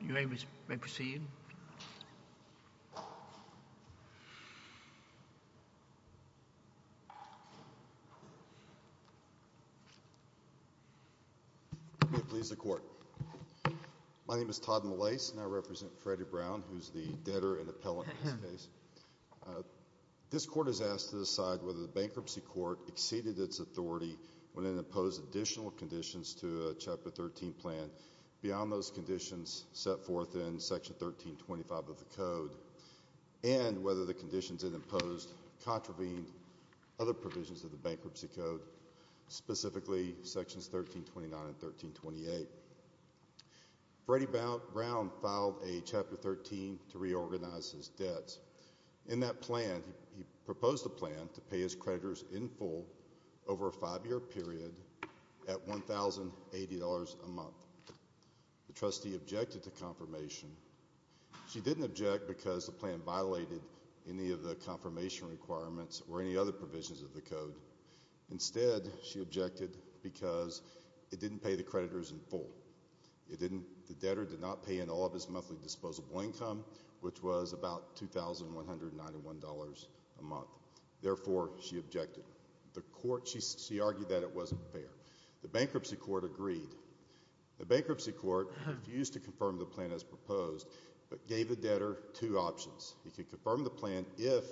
May it please the Court. My name is Todd Malaise and I represent Freddie Brown, who is the debtor and appellant in this case. This Court is asked to decide whether the Bankruptcy Court exceeded its authority when it imposed additional conditions to a Chapter 13 plan beyond those conditions set forth in Section 1325 of the Code and whether the conditions it imposed contravened other provisions of the Bankruptcy Code, specifically Sections 1329 and 1328. Freddie Brown filed a Chapter 13 to reorganize his debts. In that plan, he proposed a plan to pay his creditors in full over a five-year period at $1,080 a month. The trustee objected to confirmation. She didn't object because the plan violated any of the confirmation requirements or any other provisions of the Code. Instead, she objected because it didn't pay the creditors in full. The debtor did not pay in all of his monthly disposable income, which was about $2,191 a month. Therefore, she objected. The Court, she argued that it wasn't fair. The Bankruptcy Court agreed. The Bankruptcy Court refused to confirm the plan as proposed, but gave the debtor two options. He could confirm the plan if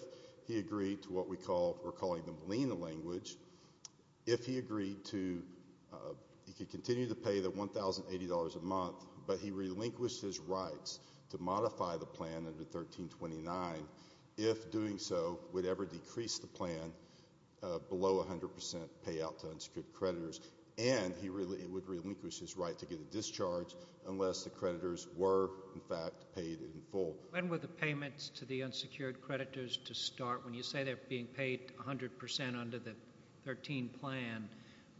he agreed to what we're calling the lien language. If he agreed to, he could continue to pay the $1,080 a month, but he relinquished his rights to modify the plan under 1329. If doing so, would ever decrease the plan below 100% payout to unsecured creditors, and he would relinquish his right to get a discharge unless the creditors were, in fact, paid in full. When were the payments to the unsecured creditors to start? When you say they're being paid 100% under the 13 plan,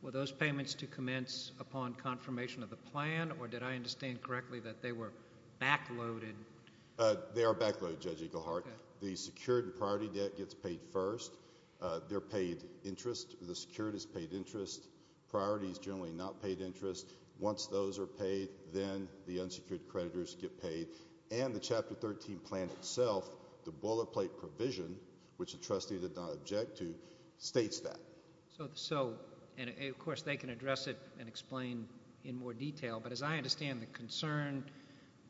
were those payments to commence upon confirmation of the plan, or did I understand correctly that they were backloaded? They are backloaded, Judge Eagleheart. The secured priority debt gets paid first. They're paid interest. The secured is paid interest. Priority is generally not paid interest. Once those are paid, then the unsecured creditors get paid, and the Chapter 13 plan itself, the boilerplate provision, which the trustee did not object to, states that. Of course, they can address it and explain in more detail, but as I understand the concern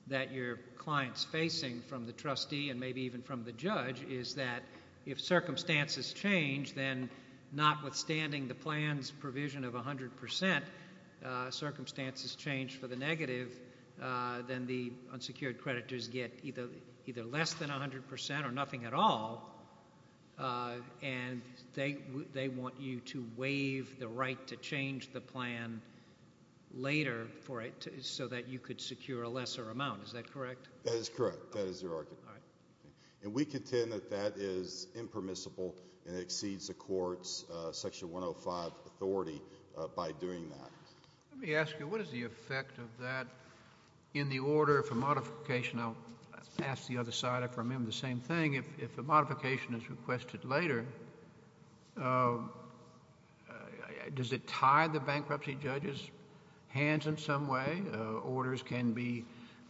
that your client's facing from the trustee, and maybe even from the judge, is that if circumstances change, then notwithstanding the plan's provision of 100%, circumstances change for the negative, then the unsecured creditors get either less than 100% or nothing at all, and they want you to waive the right to change the plan later so that you could secure a lesser amount. Is that correct? That is correct. That is your argument. All right. And we contend that that is impermissible, and it exceeds the court's Section 105 authority by doing that. Let me ask you, what is the effect of that in the order for modification? I'll ask the other side if I remember the same thing. If a modification is requested later, does it tie the bankruptcy judge's hands in some way? Orders can be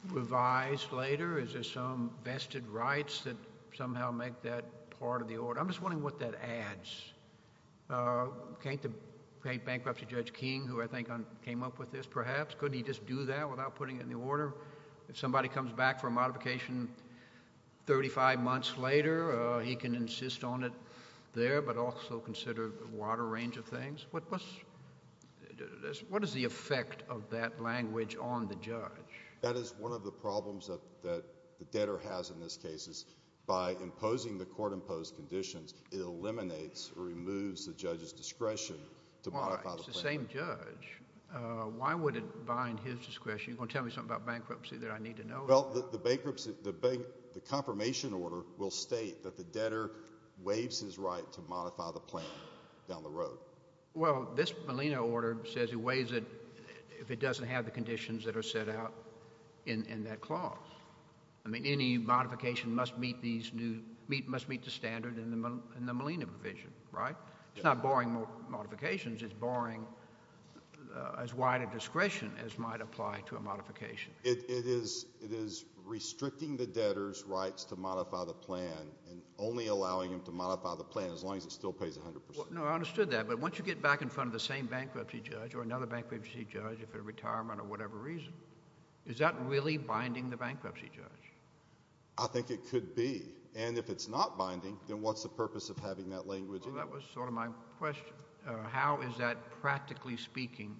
revised later? Is there some vested rights that somehow make that part of the order? I'm just wondering what that adds. Can't the bankruptcy judge King, who I think came up with this perhaps, couldn't he just do that without putting it in the order? If somebody comes back for a modification 35 months later, he can insist on it there, but also consider a wider range of things? What is the effect of that language on the judge? That is one of the problems that the debtor has in this case, is by imposing the court-imposed conditions, it eliminates or removes the judge's discretion to modify the plan. Well, it's the same judge. Why would it bind his discretion? You're going to tell me something about bankruptcy that I need to know about. Well, the bankruptcy, the confirmation order will state that the debtor waives his right to modify the plan down the road. Well, this Molina order says he waives it if it doesn't have the conditions that are set out in that clause. I mean, any modification must meet the standard in the Molina provision, right? It's not boring modifications. It's boring as wide a discretion as might apply to a modification. It is restricting the debtor's rights to modify the plan and only allowing him to modify the plan as long as it still pays 100 percent. No, I understood that, but once you get back in front of the same bankruptcy judge or another bankruptcy judge. I think it could be, and if it's not binding, then what's the purpose of having that language in there? Well, that was sort of my question. How is that, practically speaking,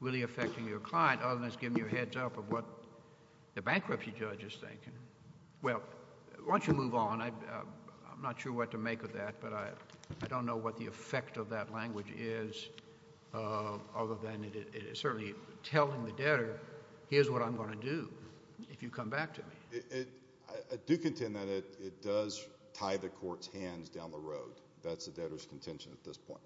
really affecting your client, other than it's giving you a heads-up of what the bankruptcy judge is thinking? Well, once you move on, I'm not sure what to make of that, but I don't know what the effect of that language is other than it is certainly telling the debtor, here's what I'm going to do if you come back to me. I do contend that it does tie the court's hands down the road. That's the debtor's contention at this point.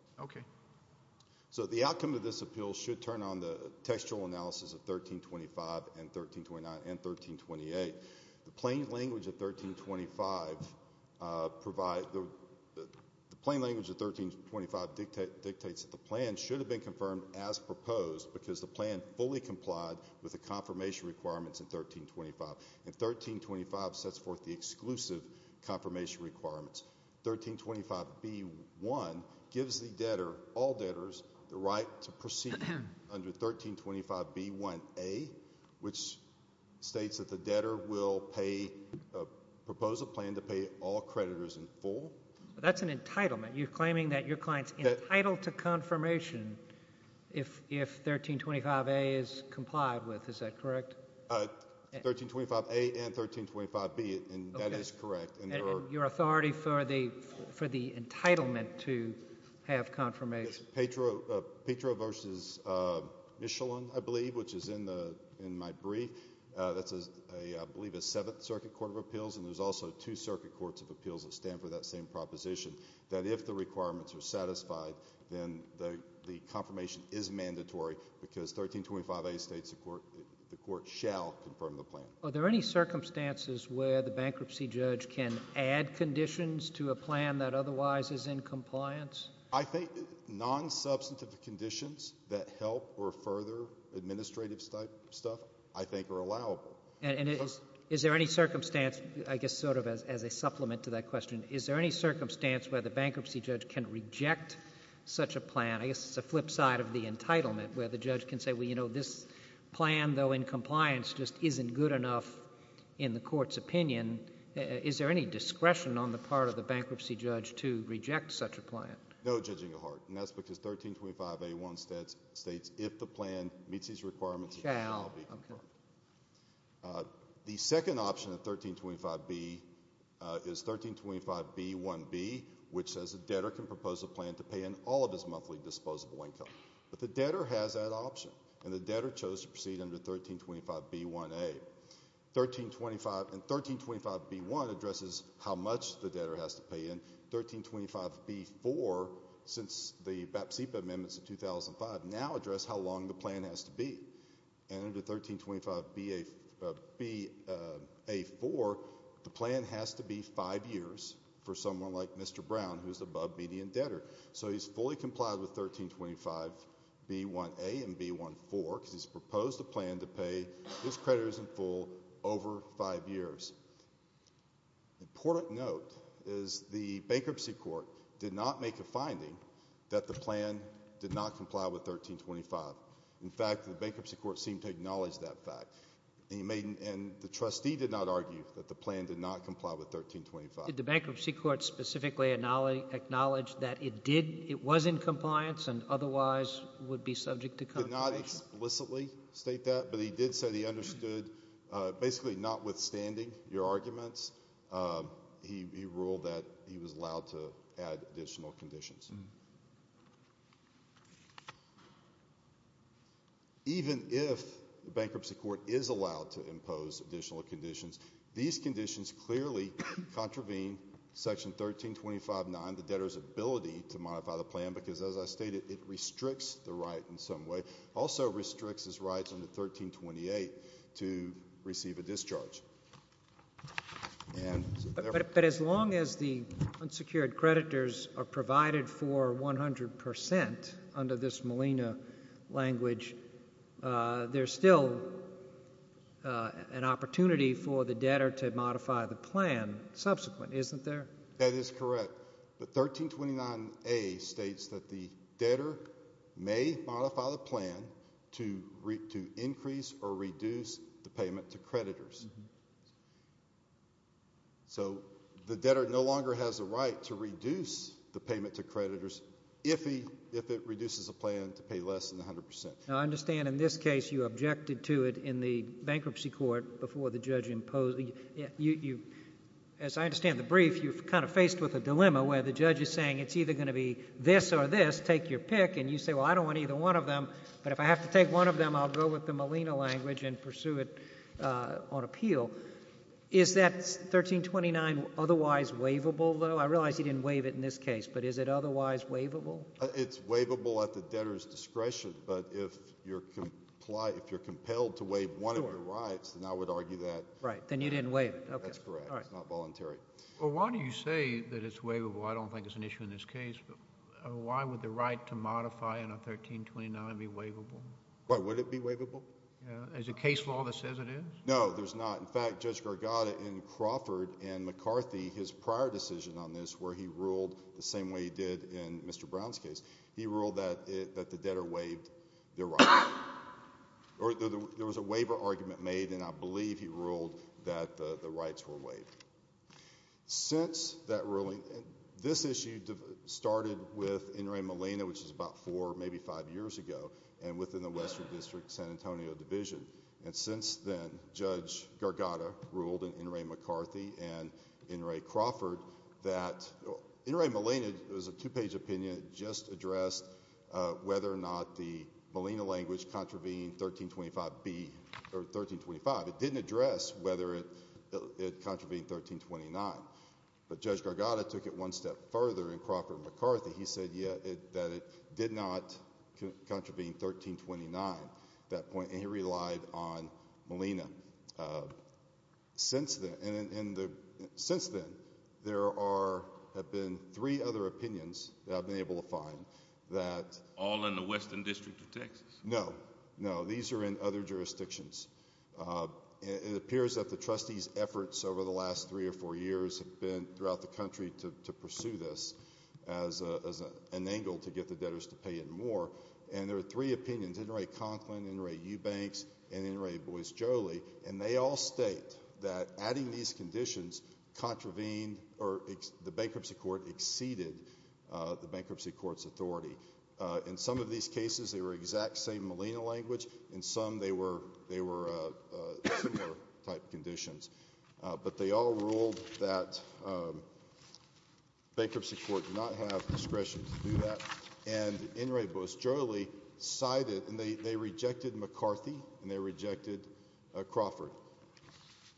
So the outcome of this appeal should turn on the textual analysis of 1325 and 1329 and 1328. The plain language of 1325 dictates that the plan should have been confirmed as proposed because the plan fully complied with the confirmation requirements in 1325, and 1325 sets forth the exclusive confirmation requirements. 1325b1 gives the debtor, all debtors, the right to proceed under 1325b1a, which states that the debtor will pay, propose a plan to pay all creditors in full. That's an entitlement. You're claiming that your client's entitled to confirmation if 1325a is complied with. Is that correct? 1325a and 1325b, and that is correct. Your authority for the entitlement to have confirmation. Petro v. Michelin, I believe, which is in my brief, that's, I believe, a Seventh Circuit Court of Appeals, and there's also two Circuit Courts of Appeals that stand for that same proposition, that if the requirements are satisfied, then the confirmation is mandatory because 1325a states the court shall confirm the plan. Are there any circumstances where the bankruptcy judge can add conditions to a plan that otherwise is in compliance? I think nonsubstantive conditions that help or further administrative stuff, I think, are allowable. And is there any circumstance, I guess sort of as a supplement to that question, is there any circumstance where the bankruptcy judge can reject such a plan, I guess it's a flip side of the entitlement, where the judge can say, well, you know, this plan, though in compliance, just isn't good enough in the court's opinion. Is there any discretion on the part of the bankruptcy judge to reject such a plan? No, Judge Engelhardt. And that's because 1325a states if the plan meets these requirements, it shall be confirmed. The second option of 1325b is 1325b1b, which says the debtor can propose a plan to pay in all of his monthly disposable income. But the debtor has that option, and the debtor chose to proceed under 1325b1a. And 1325b1 addresses how much the debtor has to pay, and 1325b4, since the BAPSIPA amendments in 2005, now address how long the plan has to be. And under 1325b4, the plan has to be five years for someone like Mr. Brown, who is the above-median debtor. So he's fully complied with 1325b1a and b1b4, because he's proposed a plan to pay, his credit isn't full, over five years. An important note is the bankruptcy court did not make a finding that the plan did not comply with 1325. In fact, the bankruptcy court seemed to acknowledge that fact. And the trustee did not argue that the plan did not comply with 1325. Did the bankruptcy court specifically acknowledge that it did, it was in compliance and otherwise would be subject to confirmation? He did not explicitly state that, but he did say that he understood, basically notwithstanding your arguments, he ruled that he was allowed to add additional conditions. Even if the bankruptcy court is allowed to impose additional conditions, these conditions clearly contravene Section 1325.9, the debtor's ability to modify the plan, because as I stated, it restricts the right in some way, also restricts his rights under 1328 to receive a discharge. But as long as the unsecured creditors are provided for 100% under this Molina language, there's still an opportunity for the debtor to modify the plan subsequent, isn't there? That is correct. But 1329a states that the debtor may modify the plan to increase or reduce the payment to creditors. So the debtor no longer has a right to reduce the payment to creditors if it reduces the plan to pay less than 100%. Now, I understand in this case you objected to it in the bankruptcy court before the judge imposed. As I understand the brief, you're kind of faced with a dilemma where the judge is saying it's either going to be this or this, take your pick, and you say, well, I don't want either one of them, but if I have to take one of them, I'll go with the Molina language and pursue it on appeal. Is that 1329 otherwise waivable, though? I realize you didn't waive it in this case, but is it otherwise waivable? It's waivable at the debtor's discretion, but if you're compelled to waive one of your rights, then I would argue that... Right. Then you didn't waive it. That's correct. It's not voluntary. Well, why do you say that it's waivable? I don't think it's an issue in this case, but why would the right to modify in a 1329 be waivable? Why would it be waivable? Is there a case law that says it is? No, there's not. In fact, Judge Gargatta in Crawford and McCarthy, his prior decision on this where he ruled the same way he did in Mr. Brown's case, he ruled that the debtor waived their rights. There was a waiver argument made, and I believe he ruled that the rights were waived. Since that ruling, this issue started with In re Molina, which is about four, maybe five years ago, and within the Western District, San Antonio Division. Since then, Judge Gargatta ruled in In re McCarthy and In re Crawford that... In re Molina, it was a two-page opinion. It just addressed whether or not the Molina language contravened 1325. It didn't address whether it contravened 1329, but Judge Gargatta took it one step further in Crawford and McCarthy. He said that it did not contravene 1329 at that point, and he relied on Molina. Since then, there have been three other opinions that I've been able to find that... All in the Western District of Texas? No. No. These are in other jurisdictions. It appears that the trustees' efforts over the last three or four years have been throughout the country to pursue this as an angle to get the debtors to pay in more, and there are three opinions, In re Conklin, In re Eubanks, and In re Boisjoli, and they all state that adding these conditions contravened or the bankruptcy court exceeded the bankruptcy court's authority. In some of these cases, they were exact same Molina language. In some, they were similar type conditions. But they all ruled that bankruptcy court did not have discretion to do that, and In re Boisjoli cited... and they rejected McCarthy, and they rejected Crawford,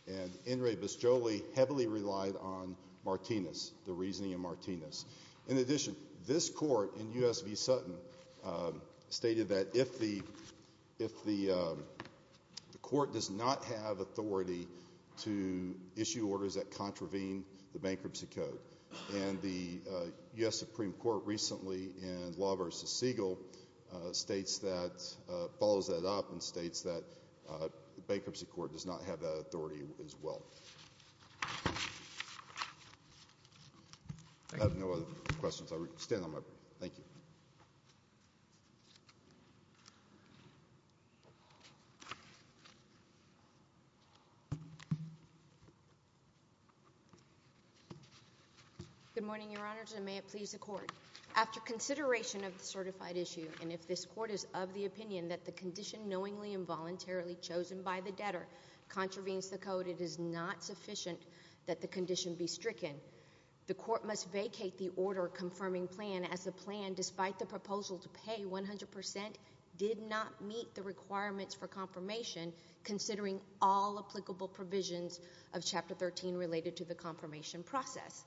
and In re Boisjoli heavily relied on Martinez, the reasoning of Martinez. In addition, this court in U.S. v. Sutton stated that if the court does not have authority to issue orders that contravene the bankruptcy code, and the U.S. Supreme Court recently in Law v. Siegel states that... follows that up and states that the bankruptcy court does not have that authority as well. I have no other questions. I will stand on my brief. Thank you. Good morning, Your Honors, and may it please the Court. After consideration of the certified issue, and if this Court is of the opinion that the condition knowingly and voluntarily chosen by the debtor contravenes the code, it is not sufficient that the condition be stricken. The Court must vacate the order confirming plan as the plan, despite the proposal to pay 100 percent, did not meet the requirements for confirmation, considering all applicable provisions of Chapter 13 related to the confirmation process.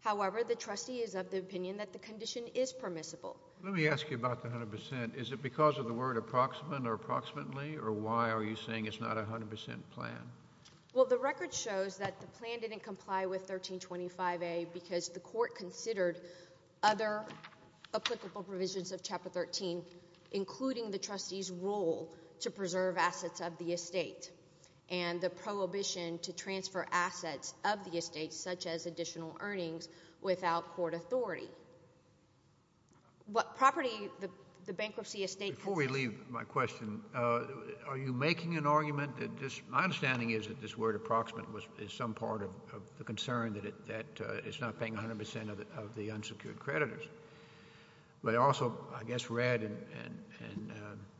However, the trustee is of the opinion that the condition is permissible. Let me ask you about the 100 percent. Is it because of the word approximate or approximately, or why are you saying it's not a 100 percent plan? Well, the record shows that the plan didn't comply with 1325A because the Court considered other applicable provisions of Chapter 13, including the trustee's role to preserve assets of the estate and the prohibition to transfer assets of the estate, such as additional earnings, without court authority. What property the bankruptcy estate... The thing is that this word approximate is some part of the concern that it's not paying 100 percent of the unsecured creditors. But I also, I guess, read in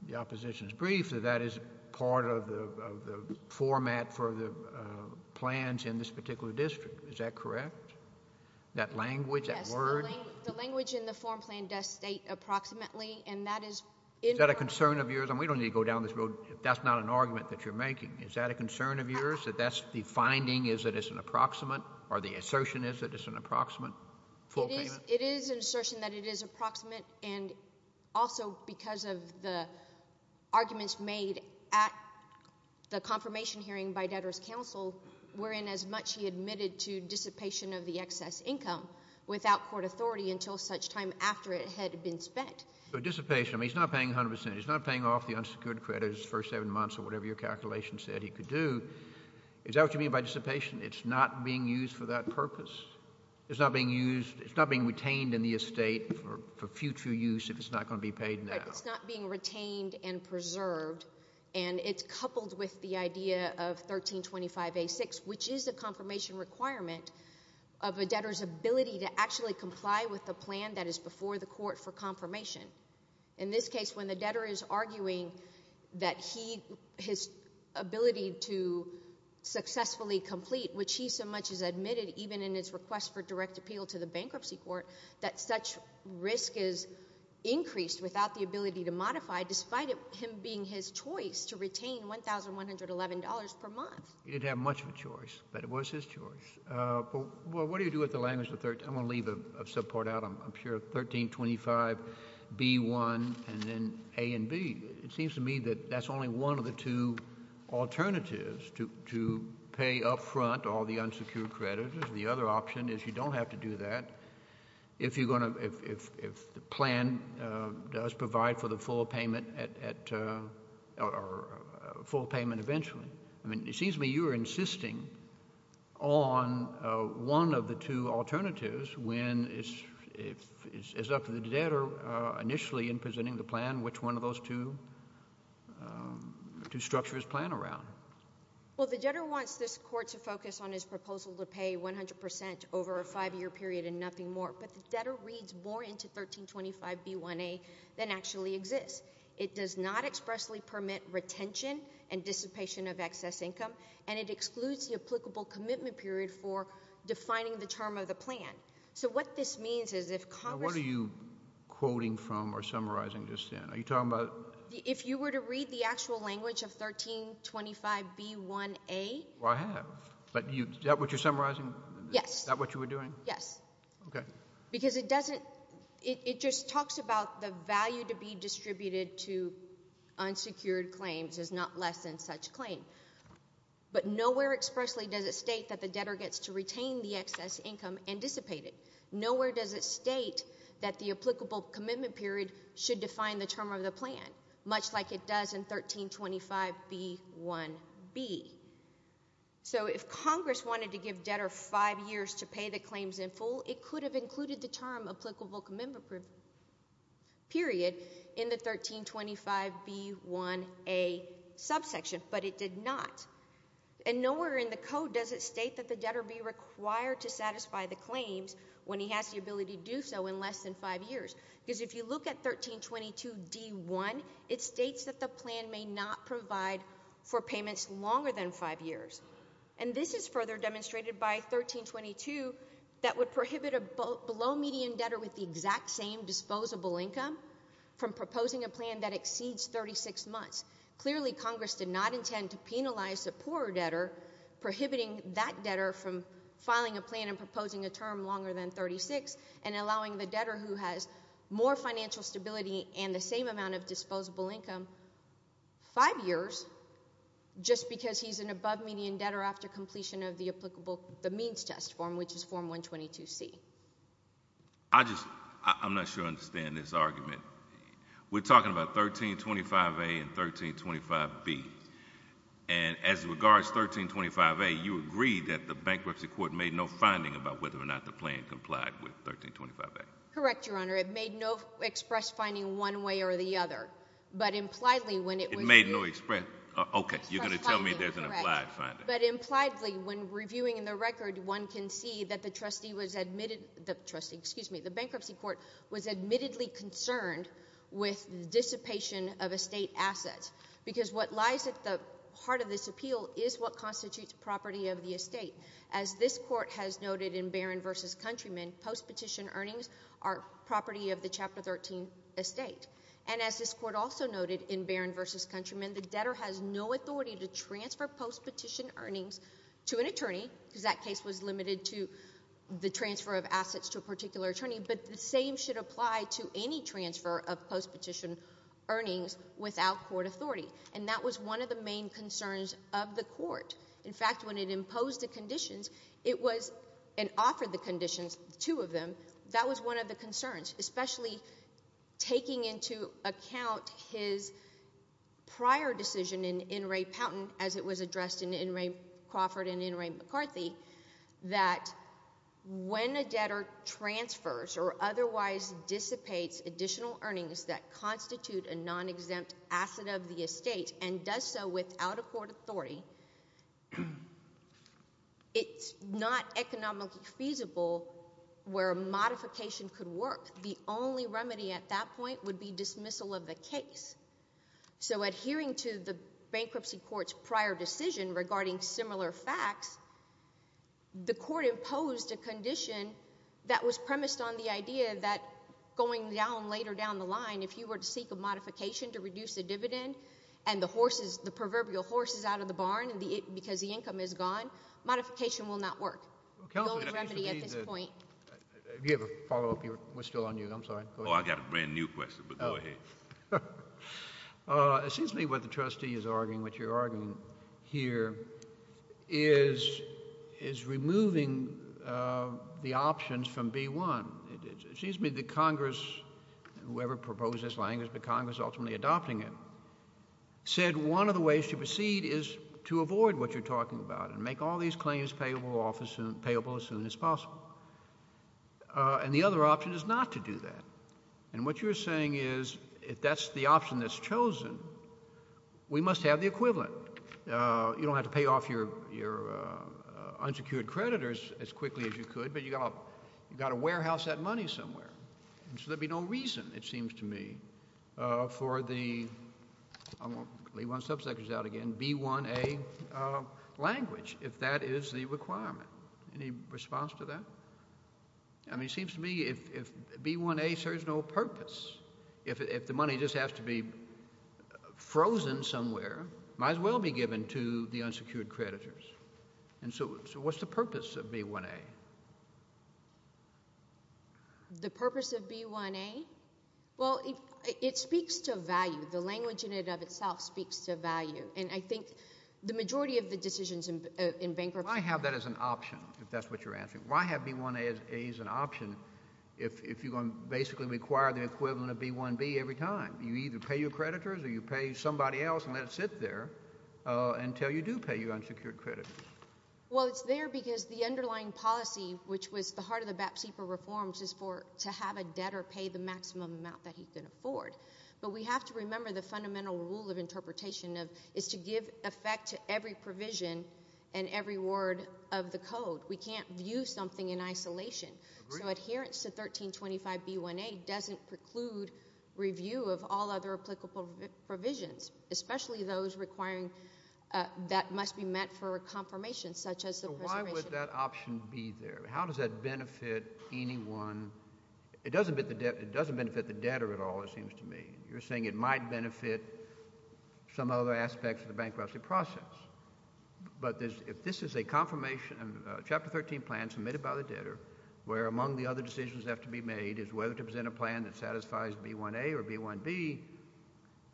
the opposition's brief that that is part of the format for the plans in this particular district. Is that correct, that language, that word? Yes. The language in the form plan does state approximately, and that is... Is that a concern of yours? I mean, we don't need to go down this road if that's not an argument that you're making. Is that a concern of yours, that that's the finding is that it's an approximate, or the assertion is that it's an approximate full payment? It is an assertion that it is approximate, and also because of the arguments made at the confirmation hearing by Debtor's Counsel wherein as much he admitted to dissipation of the excess income without court authority until such time after it had been spent. So dissipation, I mean, he's not paying 100 percent. He's not paying off the unsecured creditors for seven months or whatever your calculation said he could do. Is that what you mean by dissipation? It's not being used for that purpose? It's not being used, it's not being retained in the estate for future use if it's not going to be paid now? Right. It's not being retained and preserved, and it's coupled with the idea of 1325A6, which is a confirmation requirement of a debtor's ability to actually comply with the plan that is before the court for confirmation. In this case, when the debtor is arguing that his ability to successfully complete, which he so much has admitted even in his request for direct appeal to the bankruptcy court, that such risk is increased without the ability to modify despite him being his choice to retain $1,111 per month. He didn't have much of a choice, but it was his choice. Well, what do you do with the language of 13—I'm going to leave a subpart out. I'm sure 1325B1 and then A and B. It seems to me that that's only one of the two alternatives to pay up front all the unsecured creditors. The other option is you don't have to do that if the plan does provide for the full payment at—or full payment eventually. I mean, it seems to me you are insisting on one of the two alternatives when it's up to the debtor initially in presenting the plan which one of those two structures plan around. Well, the debtor wants this court to focus on his proposal to pay 100 percent over a five-year period and nothing more, but the debtor reads more into 1325B1A than actually exists. It does not expressly permit retention and dissipation of excess income, and it excludes the applicable commitment period for defining the term of the plan. So what this means is if Congress— Now, what are you quoting from or summarizing just then? Are you talking about— If you were to read the actual language of 1325B1A— Well, I have, but is that what you're summarizing? Yes. Is that what you were doing? Yes. Okay. Because it doesn't—it just talks about the value to be distributed to unsecured claims is not less than such claim. But nowhere expressly does it state that the debtor gets to retain the excess income and dissipate it. Nowhere does it state that the applicable commitment period should define the term of the plan, much like it does in 1325B1B. So if Congress wanted to give debtor five years to pay the claims in full, it could have included the term applicable commitment period in the 1325B1A subsection, but it did not. And nowhere in the code does it state that the debtor be required to satisfy the claims when he has the ability to do so in less than five years. Because if you look at 1322D1, it states that the plan may not provide for payments longer than five years. And this is further demonstrated by 1322 that would prohibit a below-median debtor with the exact same disposable income from proposing a plan that exceeds 36 months. Clearly, Congress did not intend to penalize the poorer debtor, prohibiting that debtor from filing a plan and proposing a term longer than 36, and allowing the debtor who has more Just because he's an above-median debtor after completion of the applicable, the means test form, which is form 122C. I just, I'm not sure I understand this argument. We're talking about 1325A and 1325B. And as regards 1325A, you agreed that the bankruptcy court made no finding about whether or not the plan complied with 1325A. Correct, Your Honor. It made no express finding one way or the other. But impliedly, when it was— It made no express— Okay, you're going to tell me there's an implied finding. But impliedly, when reviewing the record, one can see that the trustee was admitted—the trustee, excuse me, the bankruptcy court was admittedly concerned with dissipation of estate assets, because what lies at the heart of this appeal is what constitutes property of the estate. As this court has noted in Barron v. Countryman, post-petition earnings are property of the Chapter 13 estate. And as this court also noted in Barron v. Countryman, the debtor has no authority to transfer post-petition earnings to an attorney, because that case was limited to the transfer of assets to a particular attorney, but the same should apply to any transfer of post-petition earnings without court authority. And that was one of the main concerns of the court. In fact, when it imposed the conditions, it was—and offered the conditions, two of them, that was one of the concerns, especially taking into account his prior decision in In re. Pountain, as it was addressed in In re. Crawford and In re. McCarthy, that when a debtor transfers or otherwise dissipates additional earnings that constitute a non-exempt asset of the estate and does so without a court authority, it's not economically feasible where a modification could work. The only remedy at that point would be dismissal of the case. So adhering to the bankruptcy court's prior decision regarding similar facts, the court imposed a condition that was premised on the idea that going down, later down the line, if you were to seek a modification to reduce the dividend and the horses, the proverbial horses out of the barn because the income is gone, modification will not work. The only remedy at this point— Have you ever followed up? We're still on you. I'm sorry. Go ahead. Oh, I've got a brand-new question, but go ahead. It seems to me what the trustee is arguing, what you're arguing here, is removing the options from B-1. It seems to me that Congress, whoever proposed this language, but Congress ultimately adopting it, said one of the ways to proceed is to avoid what you're talking about and make all these claims payable as soon as possible. And the other option is not to do that. And what you're saying is if that's the option that's chosen, we must have the equivalent. You don't have to pay off your unsecured creditors as quickly as you could, but you've got to warehouse that money somewhere. And so there would be no reason, it seems to me, for the—I won't leave my subsectors out again— B-1A language, if that is the requirement. Any response to that? I mean, it seems to me if B-1A serves no purpose, if the money just has to be frozen somewhere, it might as well be given to the unsecured creditors. And so what's the purpose of B-1A? The purpose of B-1A? Well, it speaks to value. The language in it of itself speaks to value. And I think the majority of the decisions in bankruptcy— Why have that as an option, if that's what you're asking? Why have B-1A as an option if you're going to basically require the equivalent of B-1B every time? You either pay your creditors or you pay somebody else and let it sit there until you do pay your unsecured creditors. Well, it's there because the underlying policy, which was the heart of the BATSEPA reforms, is to have a debtor pay the maximum amount that he can afford. But we have to remember the fundamental rule of interpretation is to give effect to every provision and every word of the code. We can't view something in isolation. So adherence to 1325B-1A doesn't preclude review of all other applicable provisions, especially those requiring—that must be met for a confirmation, such as the preservation— So why would that option be there? How does that benefit anyone? It doesn't benefit the debtor at all, it seems to me. You're saying it might benefit some other aspects of the bankruptcy process. But if this is a confirmation, a Chapter 13 plan submitted by the debtor, where among the other decisions that have to be made is whether to present a plan that satisfies B-1A or B-1B,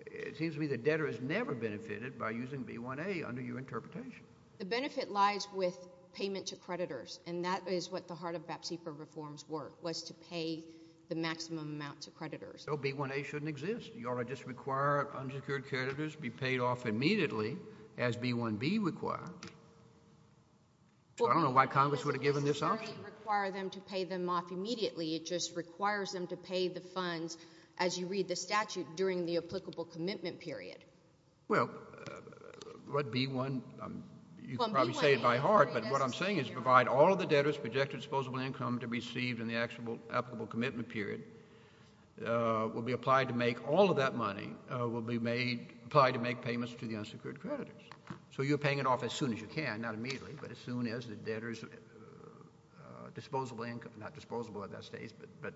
it seems to me the debtor is never benefited by using B-1A under your interpretation. The benefit lies with payment to creditors, and that is what the heart of BATSEPA reforms were, was to pay the maximum amount to creditors. So B-1A shouldn't exist. You ought to just require unsecured creditors be paid off immediately, as B-1B requires. I don't know why Congress would have given this option. It doesn't necessarily require them to pay them off immediately. It just requires them to pay the funds, as you read the statute, during the applicable commitment period. Well, what B-1, you can probably say it by heart, but what I'm saying is provide all of the debtor's projected disposable income to be received in the applicable commitment period will be applied to make all of that money, will be applied to make payments to the unsecured creditors. So you're paying it off as soon as you can, not immediately, but as soon as the debtor's disposable income, not disposable at that stage, but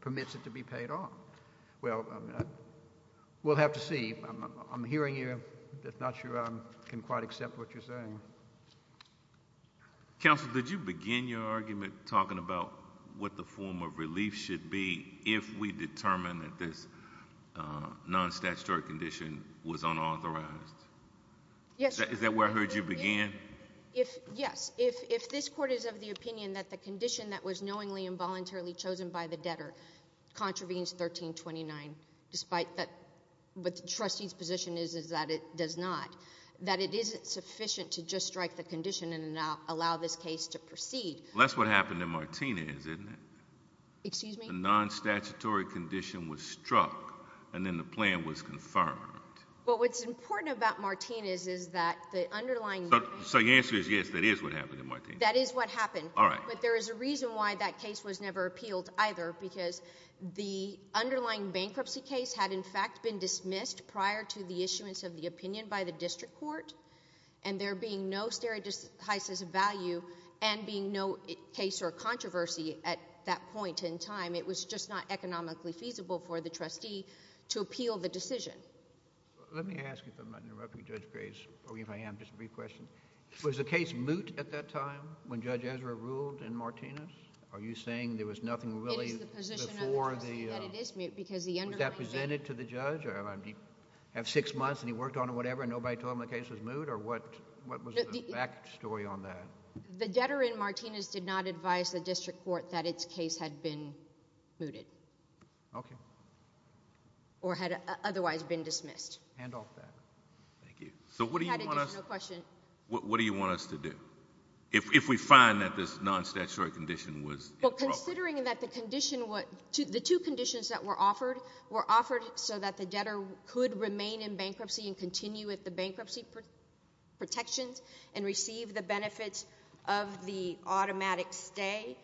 permits it to be paid off. Well, we'll have to see. I'm hearing you. I'm not sure I can quite accept what you're saying. Counsel, did you begin your argument talking about what the form of relief should be if we determine that this non-statutory condition was unauthorized? Yes. Is that where I heard you began? Yes. If this Court is of the opinion that the condition that was knowingly and voluntarily chosen by the debtor contravenes 1329, despite what the trustee's position is that it does not, that it isn't sufficient to just strike the condition and allow this case to proceed. Well, that's what happened in Martinez, isn't it? Excuse me? The non-statutory condition was struck, and then the plan was confirmed. Well, what's important about Martinez is that the underlying... So your answer is yes, that is what happened in Martinez. That is what happened. All right. But there is a reason why that case was never appealed either, because the underlying bankruptcy case had, in fact, been dismissed prior to the issuance of the opinion by the district court, and there being no stereotypes of value and being no case or controversy at that point in time, it was just not economically feasible for the trustee to appeal the decision. Let me ask, if I'm not interrupting Judge Graves, or even if I am, just a brief question. Was the case moot at that time when Judge Ezra ruled in Martinez? Are you saying there was nothing really before the... It is the position of the trustee that it is moot because the underlying... Was that presented to the judge? Did he have six months, and he worked on it or whatever, and nobody told him the case was moot? Or what was the back story on that? The debtor in Martinez did not advise the district court that its case had been mooted... Okay.... or had otherwise been dismissed. Hand off that. Thank you. So what do you want us... No question. What do you want us to do if we find that this non-statutory condition was... Well, considering that the condition was... the two conditions that were offered were offered so that the debtor could remain in bankruptcy and continue with the bankruptcy protections and receive the benefits of the automatic stay.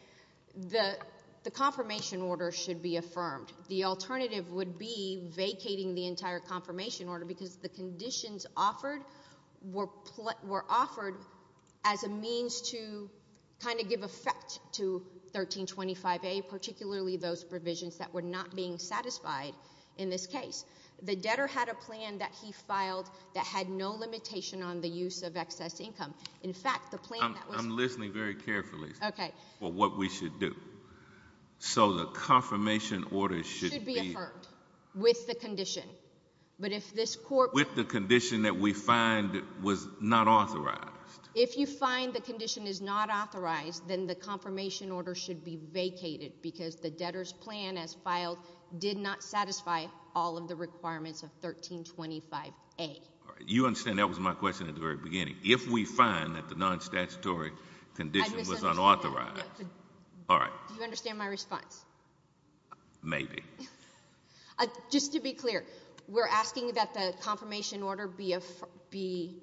The confirmation order should be affirmed. The alternative would be vacating the entire confirmation order because the conditions offered were offered as a means to kind of give effect to 1325A, particularly those provisions that were not being satisfied in this case. The debtor had a plan that he filed that had no limitation on the use of excess income. In fact, the plan that was... I'm listening very carefully... Okay.... for what we should do. So the confirmation order should be... Should be affirmed with the condition. But if this court... With the condition that we find was not authorized. If you find the condition is not authorized, then the confirmation order should be vacated because the debtor's plan as filed did not satisfy all of the requirements of 1325A. All right. You understand that was my question at the very beginning. If we find that the non-statutory condition was unauthorized... I just understand... All right. Do you understand my response? Maybe. Just to be clear, we're asking that the confirmation order be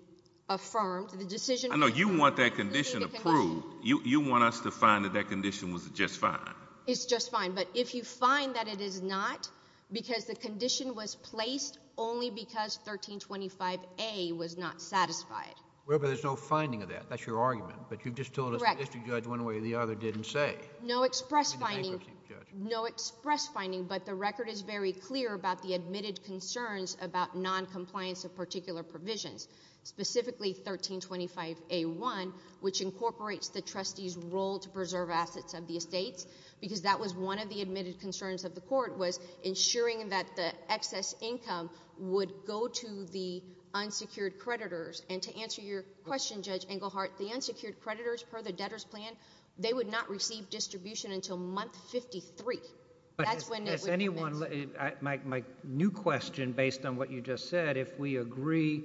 affirmed. The decision... I know. You want that condition approved. You want us to find that that condition was just fine. It's just fine. But if you find that it is not because the condition was placed only because 1325A was not satisfied... Well, but there's no finding of that. That's your argument. But you've just told us the district judge one way or the other didn't say. No express finding. No express finding, but the record is very clear about the admitted concerns about noncompliance of particular provisions, specifically 1325A1, which incorporates the trustee's role to preserve assets of the estates because that was one of the admitted concerns of the court was ensuring that the excess income would go to the unsecured creditors. And to answer your question, Judge Englehart, the unsecured creditors, per the debtor's plan, they would not receive distribution until month 53. That's when it would commence. But has anyone... My new question, based on what you just said, if we agree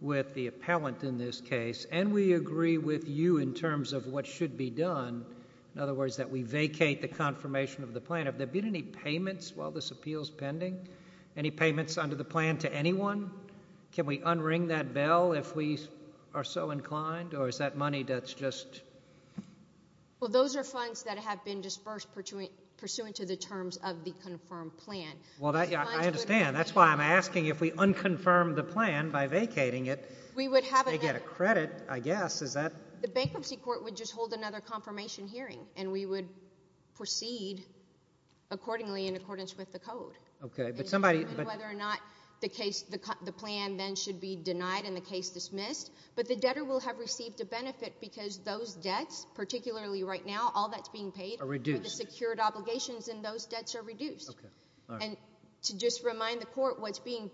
with the appellant in this case and we agree with you in terms of what should be done, in other words, that we vacate the confirmation of the plan, have there been any payments while this appeal is pending? Any payments under the plan to anyone? Can we unring that bell if we are so inclined, or is that money that's just... Well, those are funds that have been dispersed pursuant to the terms of the confirmed plan. Well, I understand. That's why I'm asking if we unconfirm the plan by vacating it, they get a credit, I guess. Is that... The bankruptcy court would just hold another confirmation hearing, and we would proceed accordingly in accordance with the code. Okay, but somebody... I don't know whether or not the plan then should be denied and the case dismissed, but the debtor will have received a benefit because those debts, particularly right now, all that's being paid... Are reduced.... are the secured obligations, and those debts are reduced. Okay, all right. And to just remind the court, what's being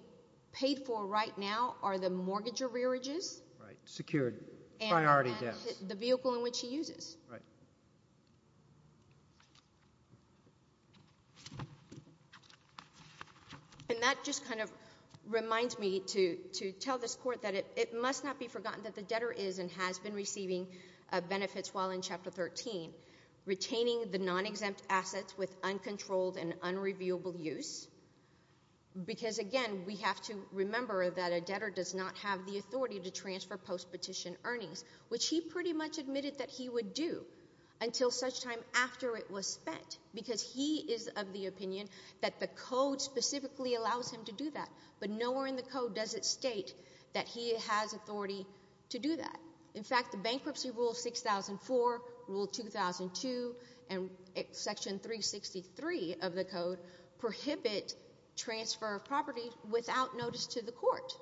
paid for right now are the mortgage arrearages... Right, secured, priority debts.... and the vehicle in which he uses. Right. And that just kind of reminds me to tell this court that it must not be forgotten that the debtor is and has been receiving benefits while in Chapter 13, retaining the non-exempt assets with uncontrolled and unreviewable use. Because, again, we have to remember that a debtor does not have the authority to transfer post-petition earnings, which he pretty much admitted that he would do, until such time after it was spent. Because he is of the opinion that the code specifically allows him to do that. But nowhere in the code does it state that he has authority to do that. In fact, the Bankruptcy Rule 6004, Rule 2002, and Section 363 of the code, prohibit transfer of property without notice to the court.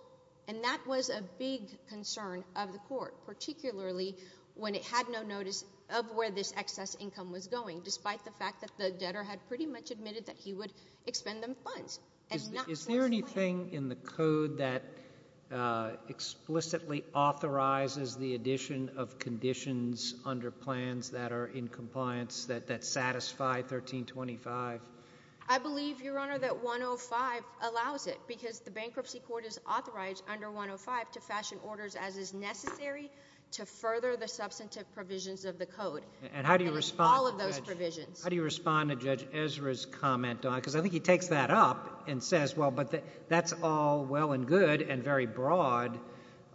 And that was a big concern of the court, particularly when it had no notice of where this excess income was going, despite the fact that the debtor had pretty much admitted that he would expend them funds. Is there anything in the code that explicitly authorizes the addition of conditions under plans that are in compliance that satisfy 1325? I believe, Your Honor, that 105 allows it. Because the Bankruptcy Court is authorized under 105 to fashion orders as is necessary to further the substantive provisions of the code. And how do you respond to Judge Ezra's comment on it? Because I think he takes that up and says, well, but that's all well and good and very broad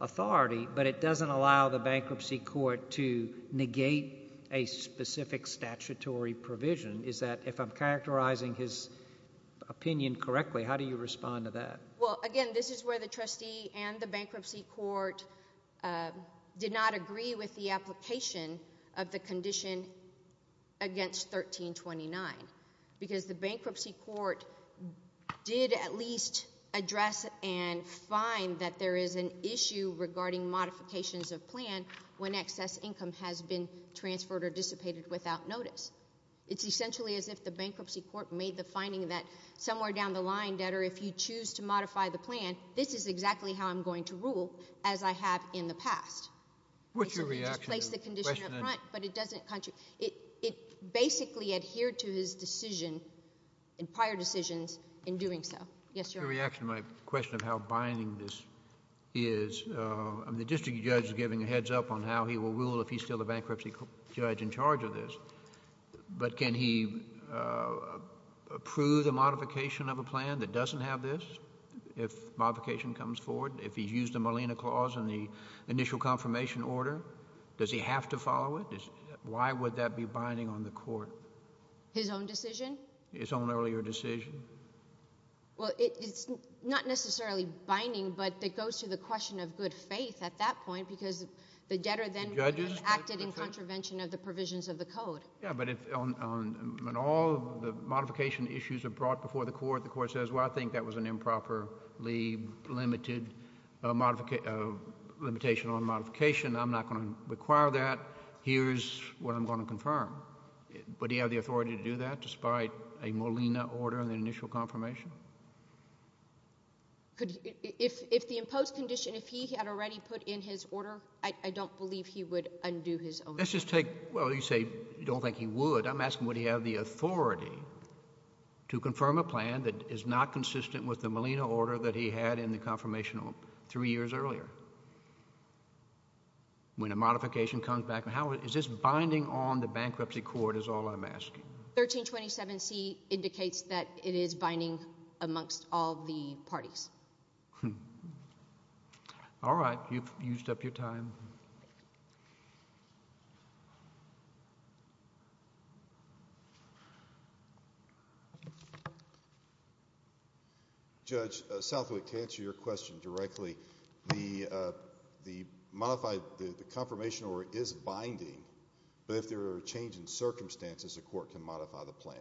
authority, but it doesn't allow the Bankruptcy Court to negate a specific statutory provision. Is that, if I'm characterizing his opinion correctly, how do you respond to that? Well, again, this is where the trustee and the Bankruptcy Court did not agree with the application of the condition against 1329 because the Bankruptcy Court did at least address and find that there is an issue regarding modifications of plan when excess income has been transferred or dissipated without notice. It's essentially as if the Bankruptcy Court made the finding that somewhere down the line, Debtor, if you choose to modify the plan, this is exactly how I'm going to rule as I have in the past. What's your reaction to the question? It displaces the condition up front, but it doesn't contradict. It basically adhered to his decision, prior decisions, in doing so. Yes, Your Honor. To your reaction to my question of how binding this is, the district judge is giving a heads-up on how he will rule if he's still the bankruptcy judge in charge of this, but can he approve the modification of a plan that doesn't have this? If modification comes forward, if he's used the Molina Clause in the initial confirmation order, does he have to follow it? Why would that be binding on the court? His own decision? His own earlier decision. Well, it's not necessarily binding, but it goes to the question of good faith at that point, because the debtor then would have acted in contravention of the provisions of the code. Yeah, but if on all the modification issues are brought before the court, the court says, well, I think that was an improperly limited limitation on modification. I'm not going to require that. Here's what I'm going to confirm. Would he have the authority to do that despite a Molina order in the initial confirmation? If the imposed condition, if he had already put in his order, I don't believe he would undo his own. Let's just take, well, you say you don't think he would. I'm asking would he have the authority to confirm a plan that is not consistent with the Molina order that he had in the confirmation three years earlier? When a modification comes back, is this binding on the bankruptcy court is all I'm asking. 1327C indicates that it is binding amongst all the parties. All right. You've used up your time. Judge Southwick, to answer your question directly, the modified confirmation order is binding, but if there are changes in circumstances, the court can modify the plan.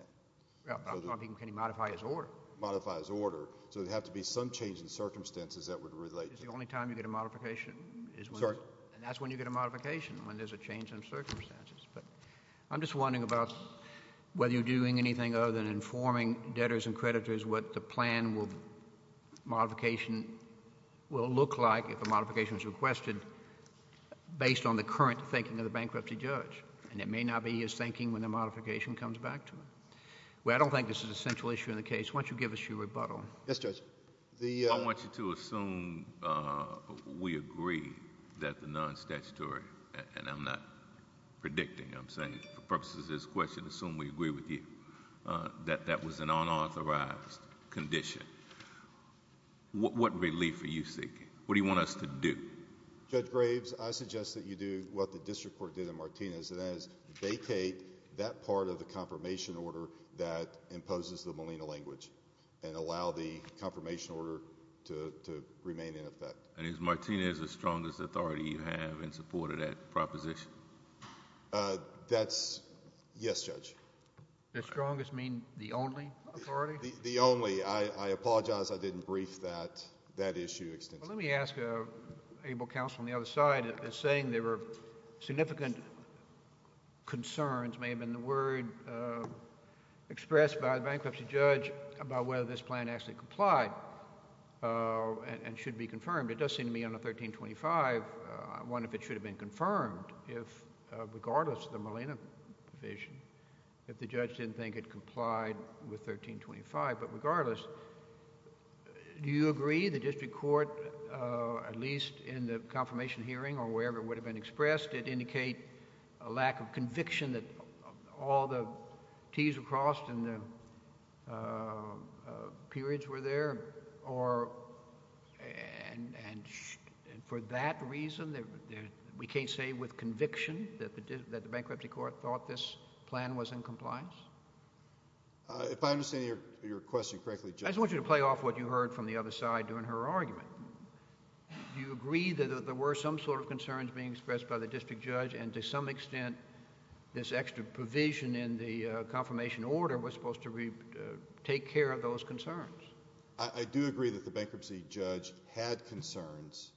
Yeah, but I'm talking can he modify his order? Modify his order. So there would have to be some change in circumstances that would relate to it. It's the only time you get a modification. Sorry. And that's when you get a modification, when there's a change in circumstances. But I'm just wondering about whether you're doing anything other than informing debtors and creditors what the plan will, modification will look like if a modification is requested based on the current thinking of the bankruptcy judge, and it may not be his thinking when the modification comes back to him. Well, I don't think this is an essential issue in the case. Why don't you give us your rebuttal? Yes, Judge. I want you to assume we agree that the non-statutory, and I'm not predicting, I'm saying for purposes of this question, assume we agree with you that that was an unauthorized condition. What relief are you seeking? What do you want us to do? Judge Graves, I suggest that you do what the district court did in Martinez, and that is vacate that part of the confirmation order that imposes the Molina language, and allow the confirmation order to remain in effect. And is Martinez the strongest authority you have in support of that proposition? That's, yes, Judge. The strongest mean the only authority? The only. I apologize I didn't brief that issue extensively. Well, let me ask Abel Counsel on the other side. It's saying there were significant concerns, may have been the word expressed by the bankruptcy judge, about whether this plan actually complied and should be confirmed. It does seem to me under 1325, I wonder if it should have been confirmed, regardless of the Molina provision, if the judge didn't think it complied with 1325. But regardless, do you agree the district court, at least in the confirmation hearing or wherever it would have been expressed, did indicate a lack of conviction that all the Ts were crossed and the periods were there? And for that reason, we can't say with conviction that the bankruptcy court thought this plan was in compliance? If I understand your question correctly, Judge. I just want you to play off what you heard from the other side during her argument. Do you agree that there were some sort of concerns being expressed by the district judge and to some extent this extra provision in the confirmation order was supposed to take care of those concerns? I do agree that the bankruptcy judge had concerns,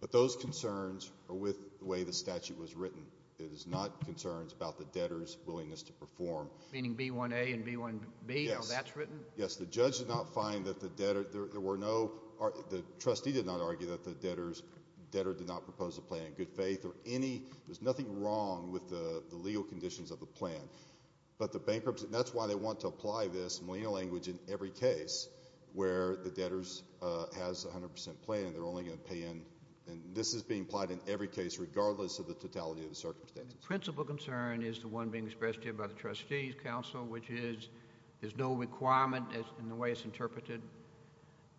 but those concerns are with the way the statute was written. It is not concerns about the debtor's willingness to perform. Meaning B1A and B1B, how that's written? Yes, the judge did not find that the debtor, there were no, the trustee did not argue that the debtor did not propose a plan in good faith or any, there's nothing wrong with the legal conditions of the plan. But the bankruptcy, and that's why they want to apply this Molina language in every case where the debtor has 100% play and they're only going to pay in, and this is being applied in every case regardless of the totality of the circumstances. Principal concern is the one being expressed here by the trustee's counsel, which is there's no requirement in the way it's interpreted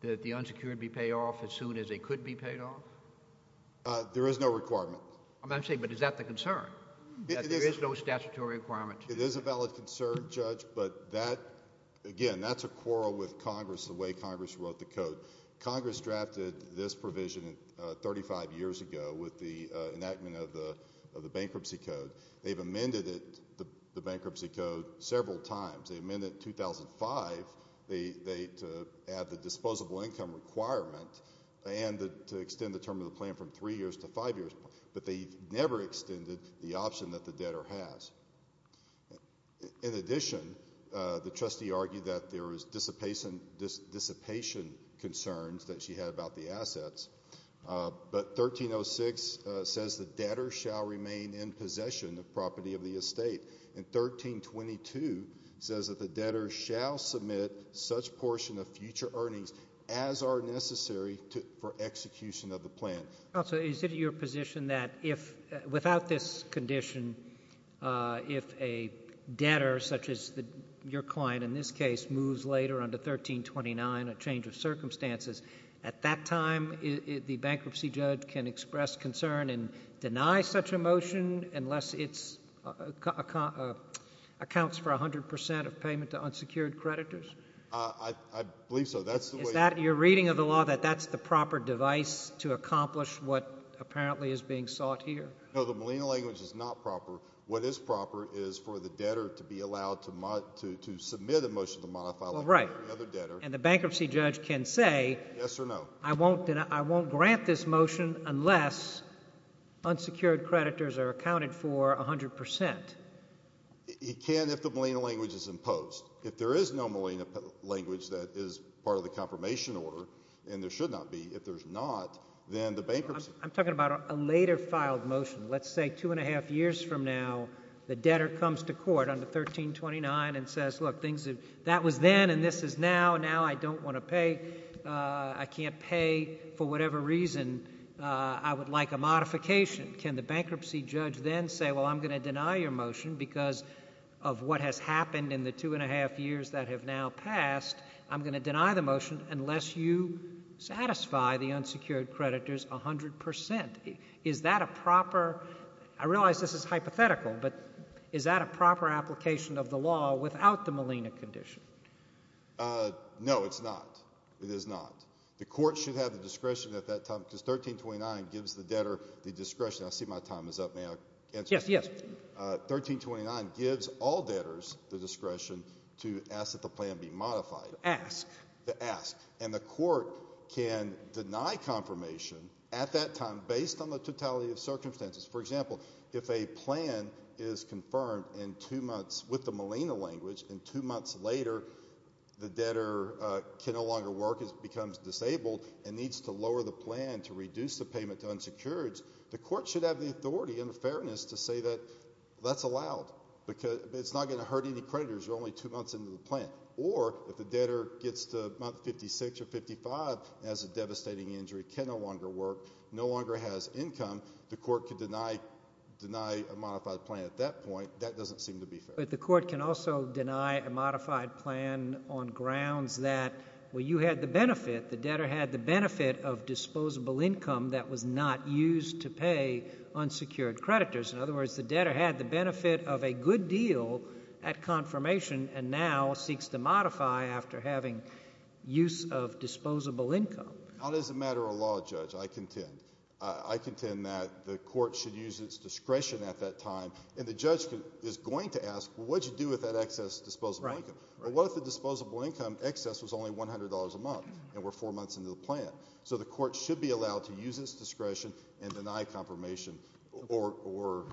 that the unsecured be paid off as soon as they could be paid off? There is no requirement. I'm saying, but is that the concern? There is no statutory requirement. It is a valid concern, Judge, but that, again, that's a quarrel with Congress, the way Congress wrote the code. Congress drafted this provision 35 years ago with the enactment of the bankruptcy code. They've amended it, the bankruptcy code, several times. They amended it in 2005 to add the disposable income requirement and to extend the term of the plan from three years to five years, but they've never extended the option that the debtor has. In addition, the trustee argued that there was dissipation concerns that she had about the assets, but 1306 says the debtor shall remain in possession of property of the estate, and 1322 says that the debtor shall submit such portion of future earnings as are necessary for execution of the plan. Counsel, is it your position that without this condition, if a debtor, such as your client in this case, moves later on to 1329, a change of circumstances, at that time the bankruptcy judge can express concern and deny such a motion unless it accounts for 100 percent of payment to unsecured creditors? I believe so. Is that your reading of the law, that that's the proper device to accomplish what apparently is being sought here? No, the Molina language is not proper. What is proper is for the debtor to be allowed to submit a motion to modify like any other debtor. And the bankruptcy judge can say, I won't grant this motion unless unsecured creditors are accounted for 100 percent. He can if the Molina language is imposed. If there is no Molina language that is part of the confirmation order, and there should not be, if there's not, then the bankruptcy. I'm talking about a later filed motion. Let's say two and a half years from now the debtor comes to court under 1329 and says, look, that was then and this is now. Now I don't want to pay. I can't pay for whatever reason. I would like a modification. Can the bankruptcy judge then say, well, I'm going to deny your motion because of what has happened in the two and a half years that have now passed. I'm going to deny the motion unless you satisfy the unsecured creditors 100 percent. Is that a proper I realize this is hypothetical, but is that a proper application of the law without the Molina condition? No, it's not. It is not. The court should have the discretion at that time because 1329 gives the debtor the discretion. I see my time is up now. Yes, yes. 1329 gives all debtors the discretion to ask that the plan be modified. Ask. Ask. And the court can deny confirmation at that time based on the totality of circumstances. For example, if a plan is confirmed in two months with the Molina language and two months later the debtor can no longer work, becomes disabled, and needs to lower the plan to reduce the payment to unsecured, the court should have the authority and the fairness to say that that's allowed. It's not going to hurt any creditors. You're only two months into the plan. Or if the debtor gets to about 56 or 55 and has a devastating injury, can no longer work, no longer has income, the court can deny a modified plan at that point. That doesn't seem to be fair. But the court can also deny a modified plan on grounds that, well, you had the benefit, the debtor had the benefit of disposable income that was not used to pay unsecured creditors. In other words, the debtor had the benefit of a good deal at confirmation and now seeks to modify after having use of disposable income. That is a matter of law, Judge. I contend. I contend that the court should use its discretion at that time, and the judge is going to ask, well, what did you do with that excess disposable income? Well, what if the disposable income excess was only $100 a month and we're four months into the plan? So the court should be allowed to use its discretion and deny confirmation or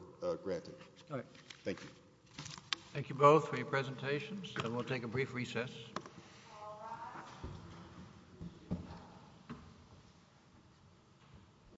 granting. All right. Thank you. Thank you both for your presentations, and we'll take a brief recess. Thank you.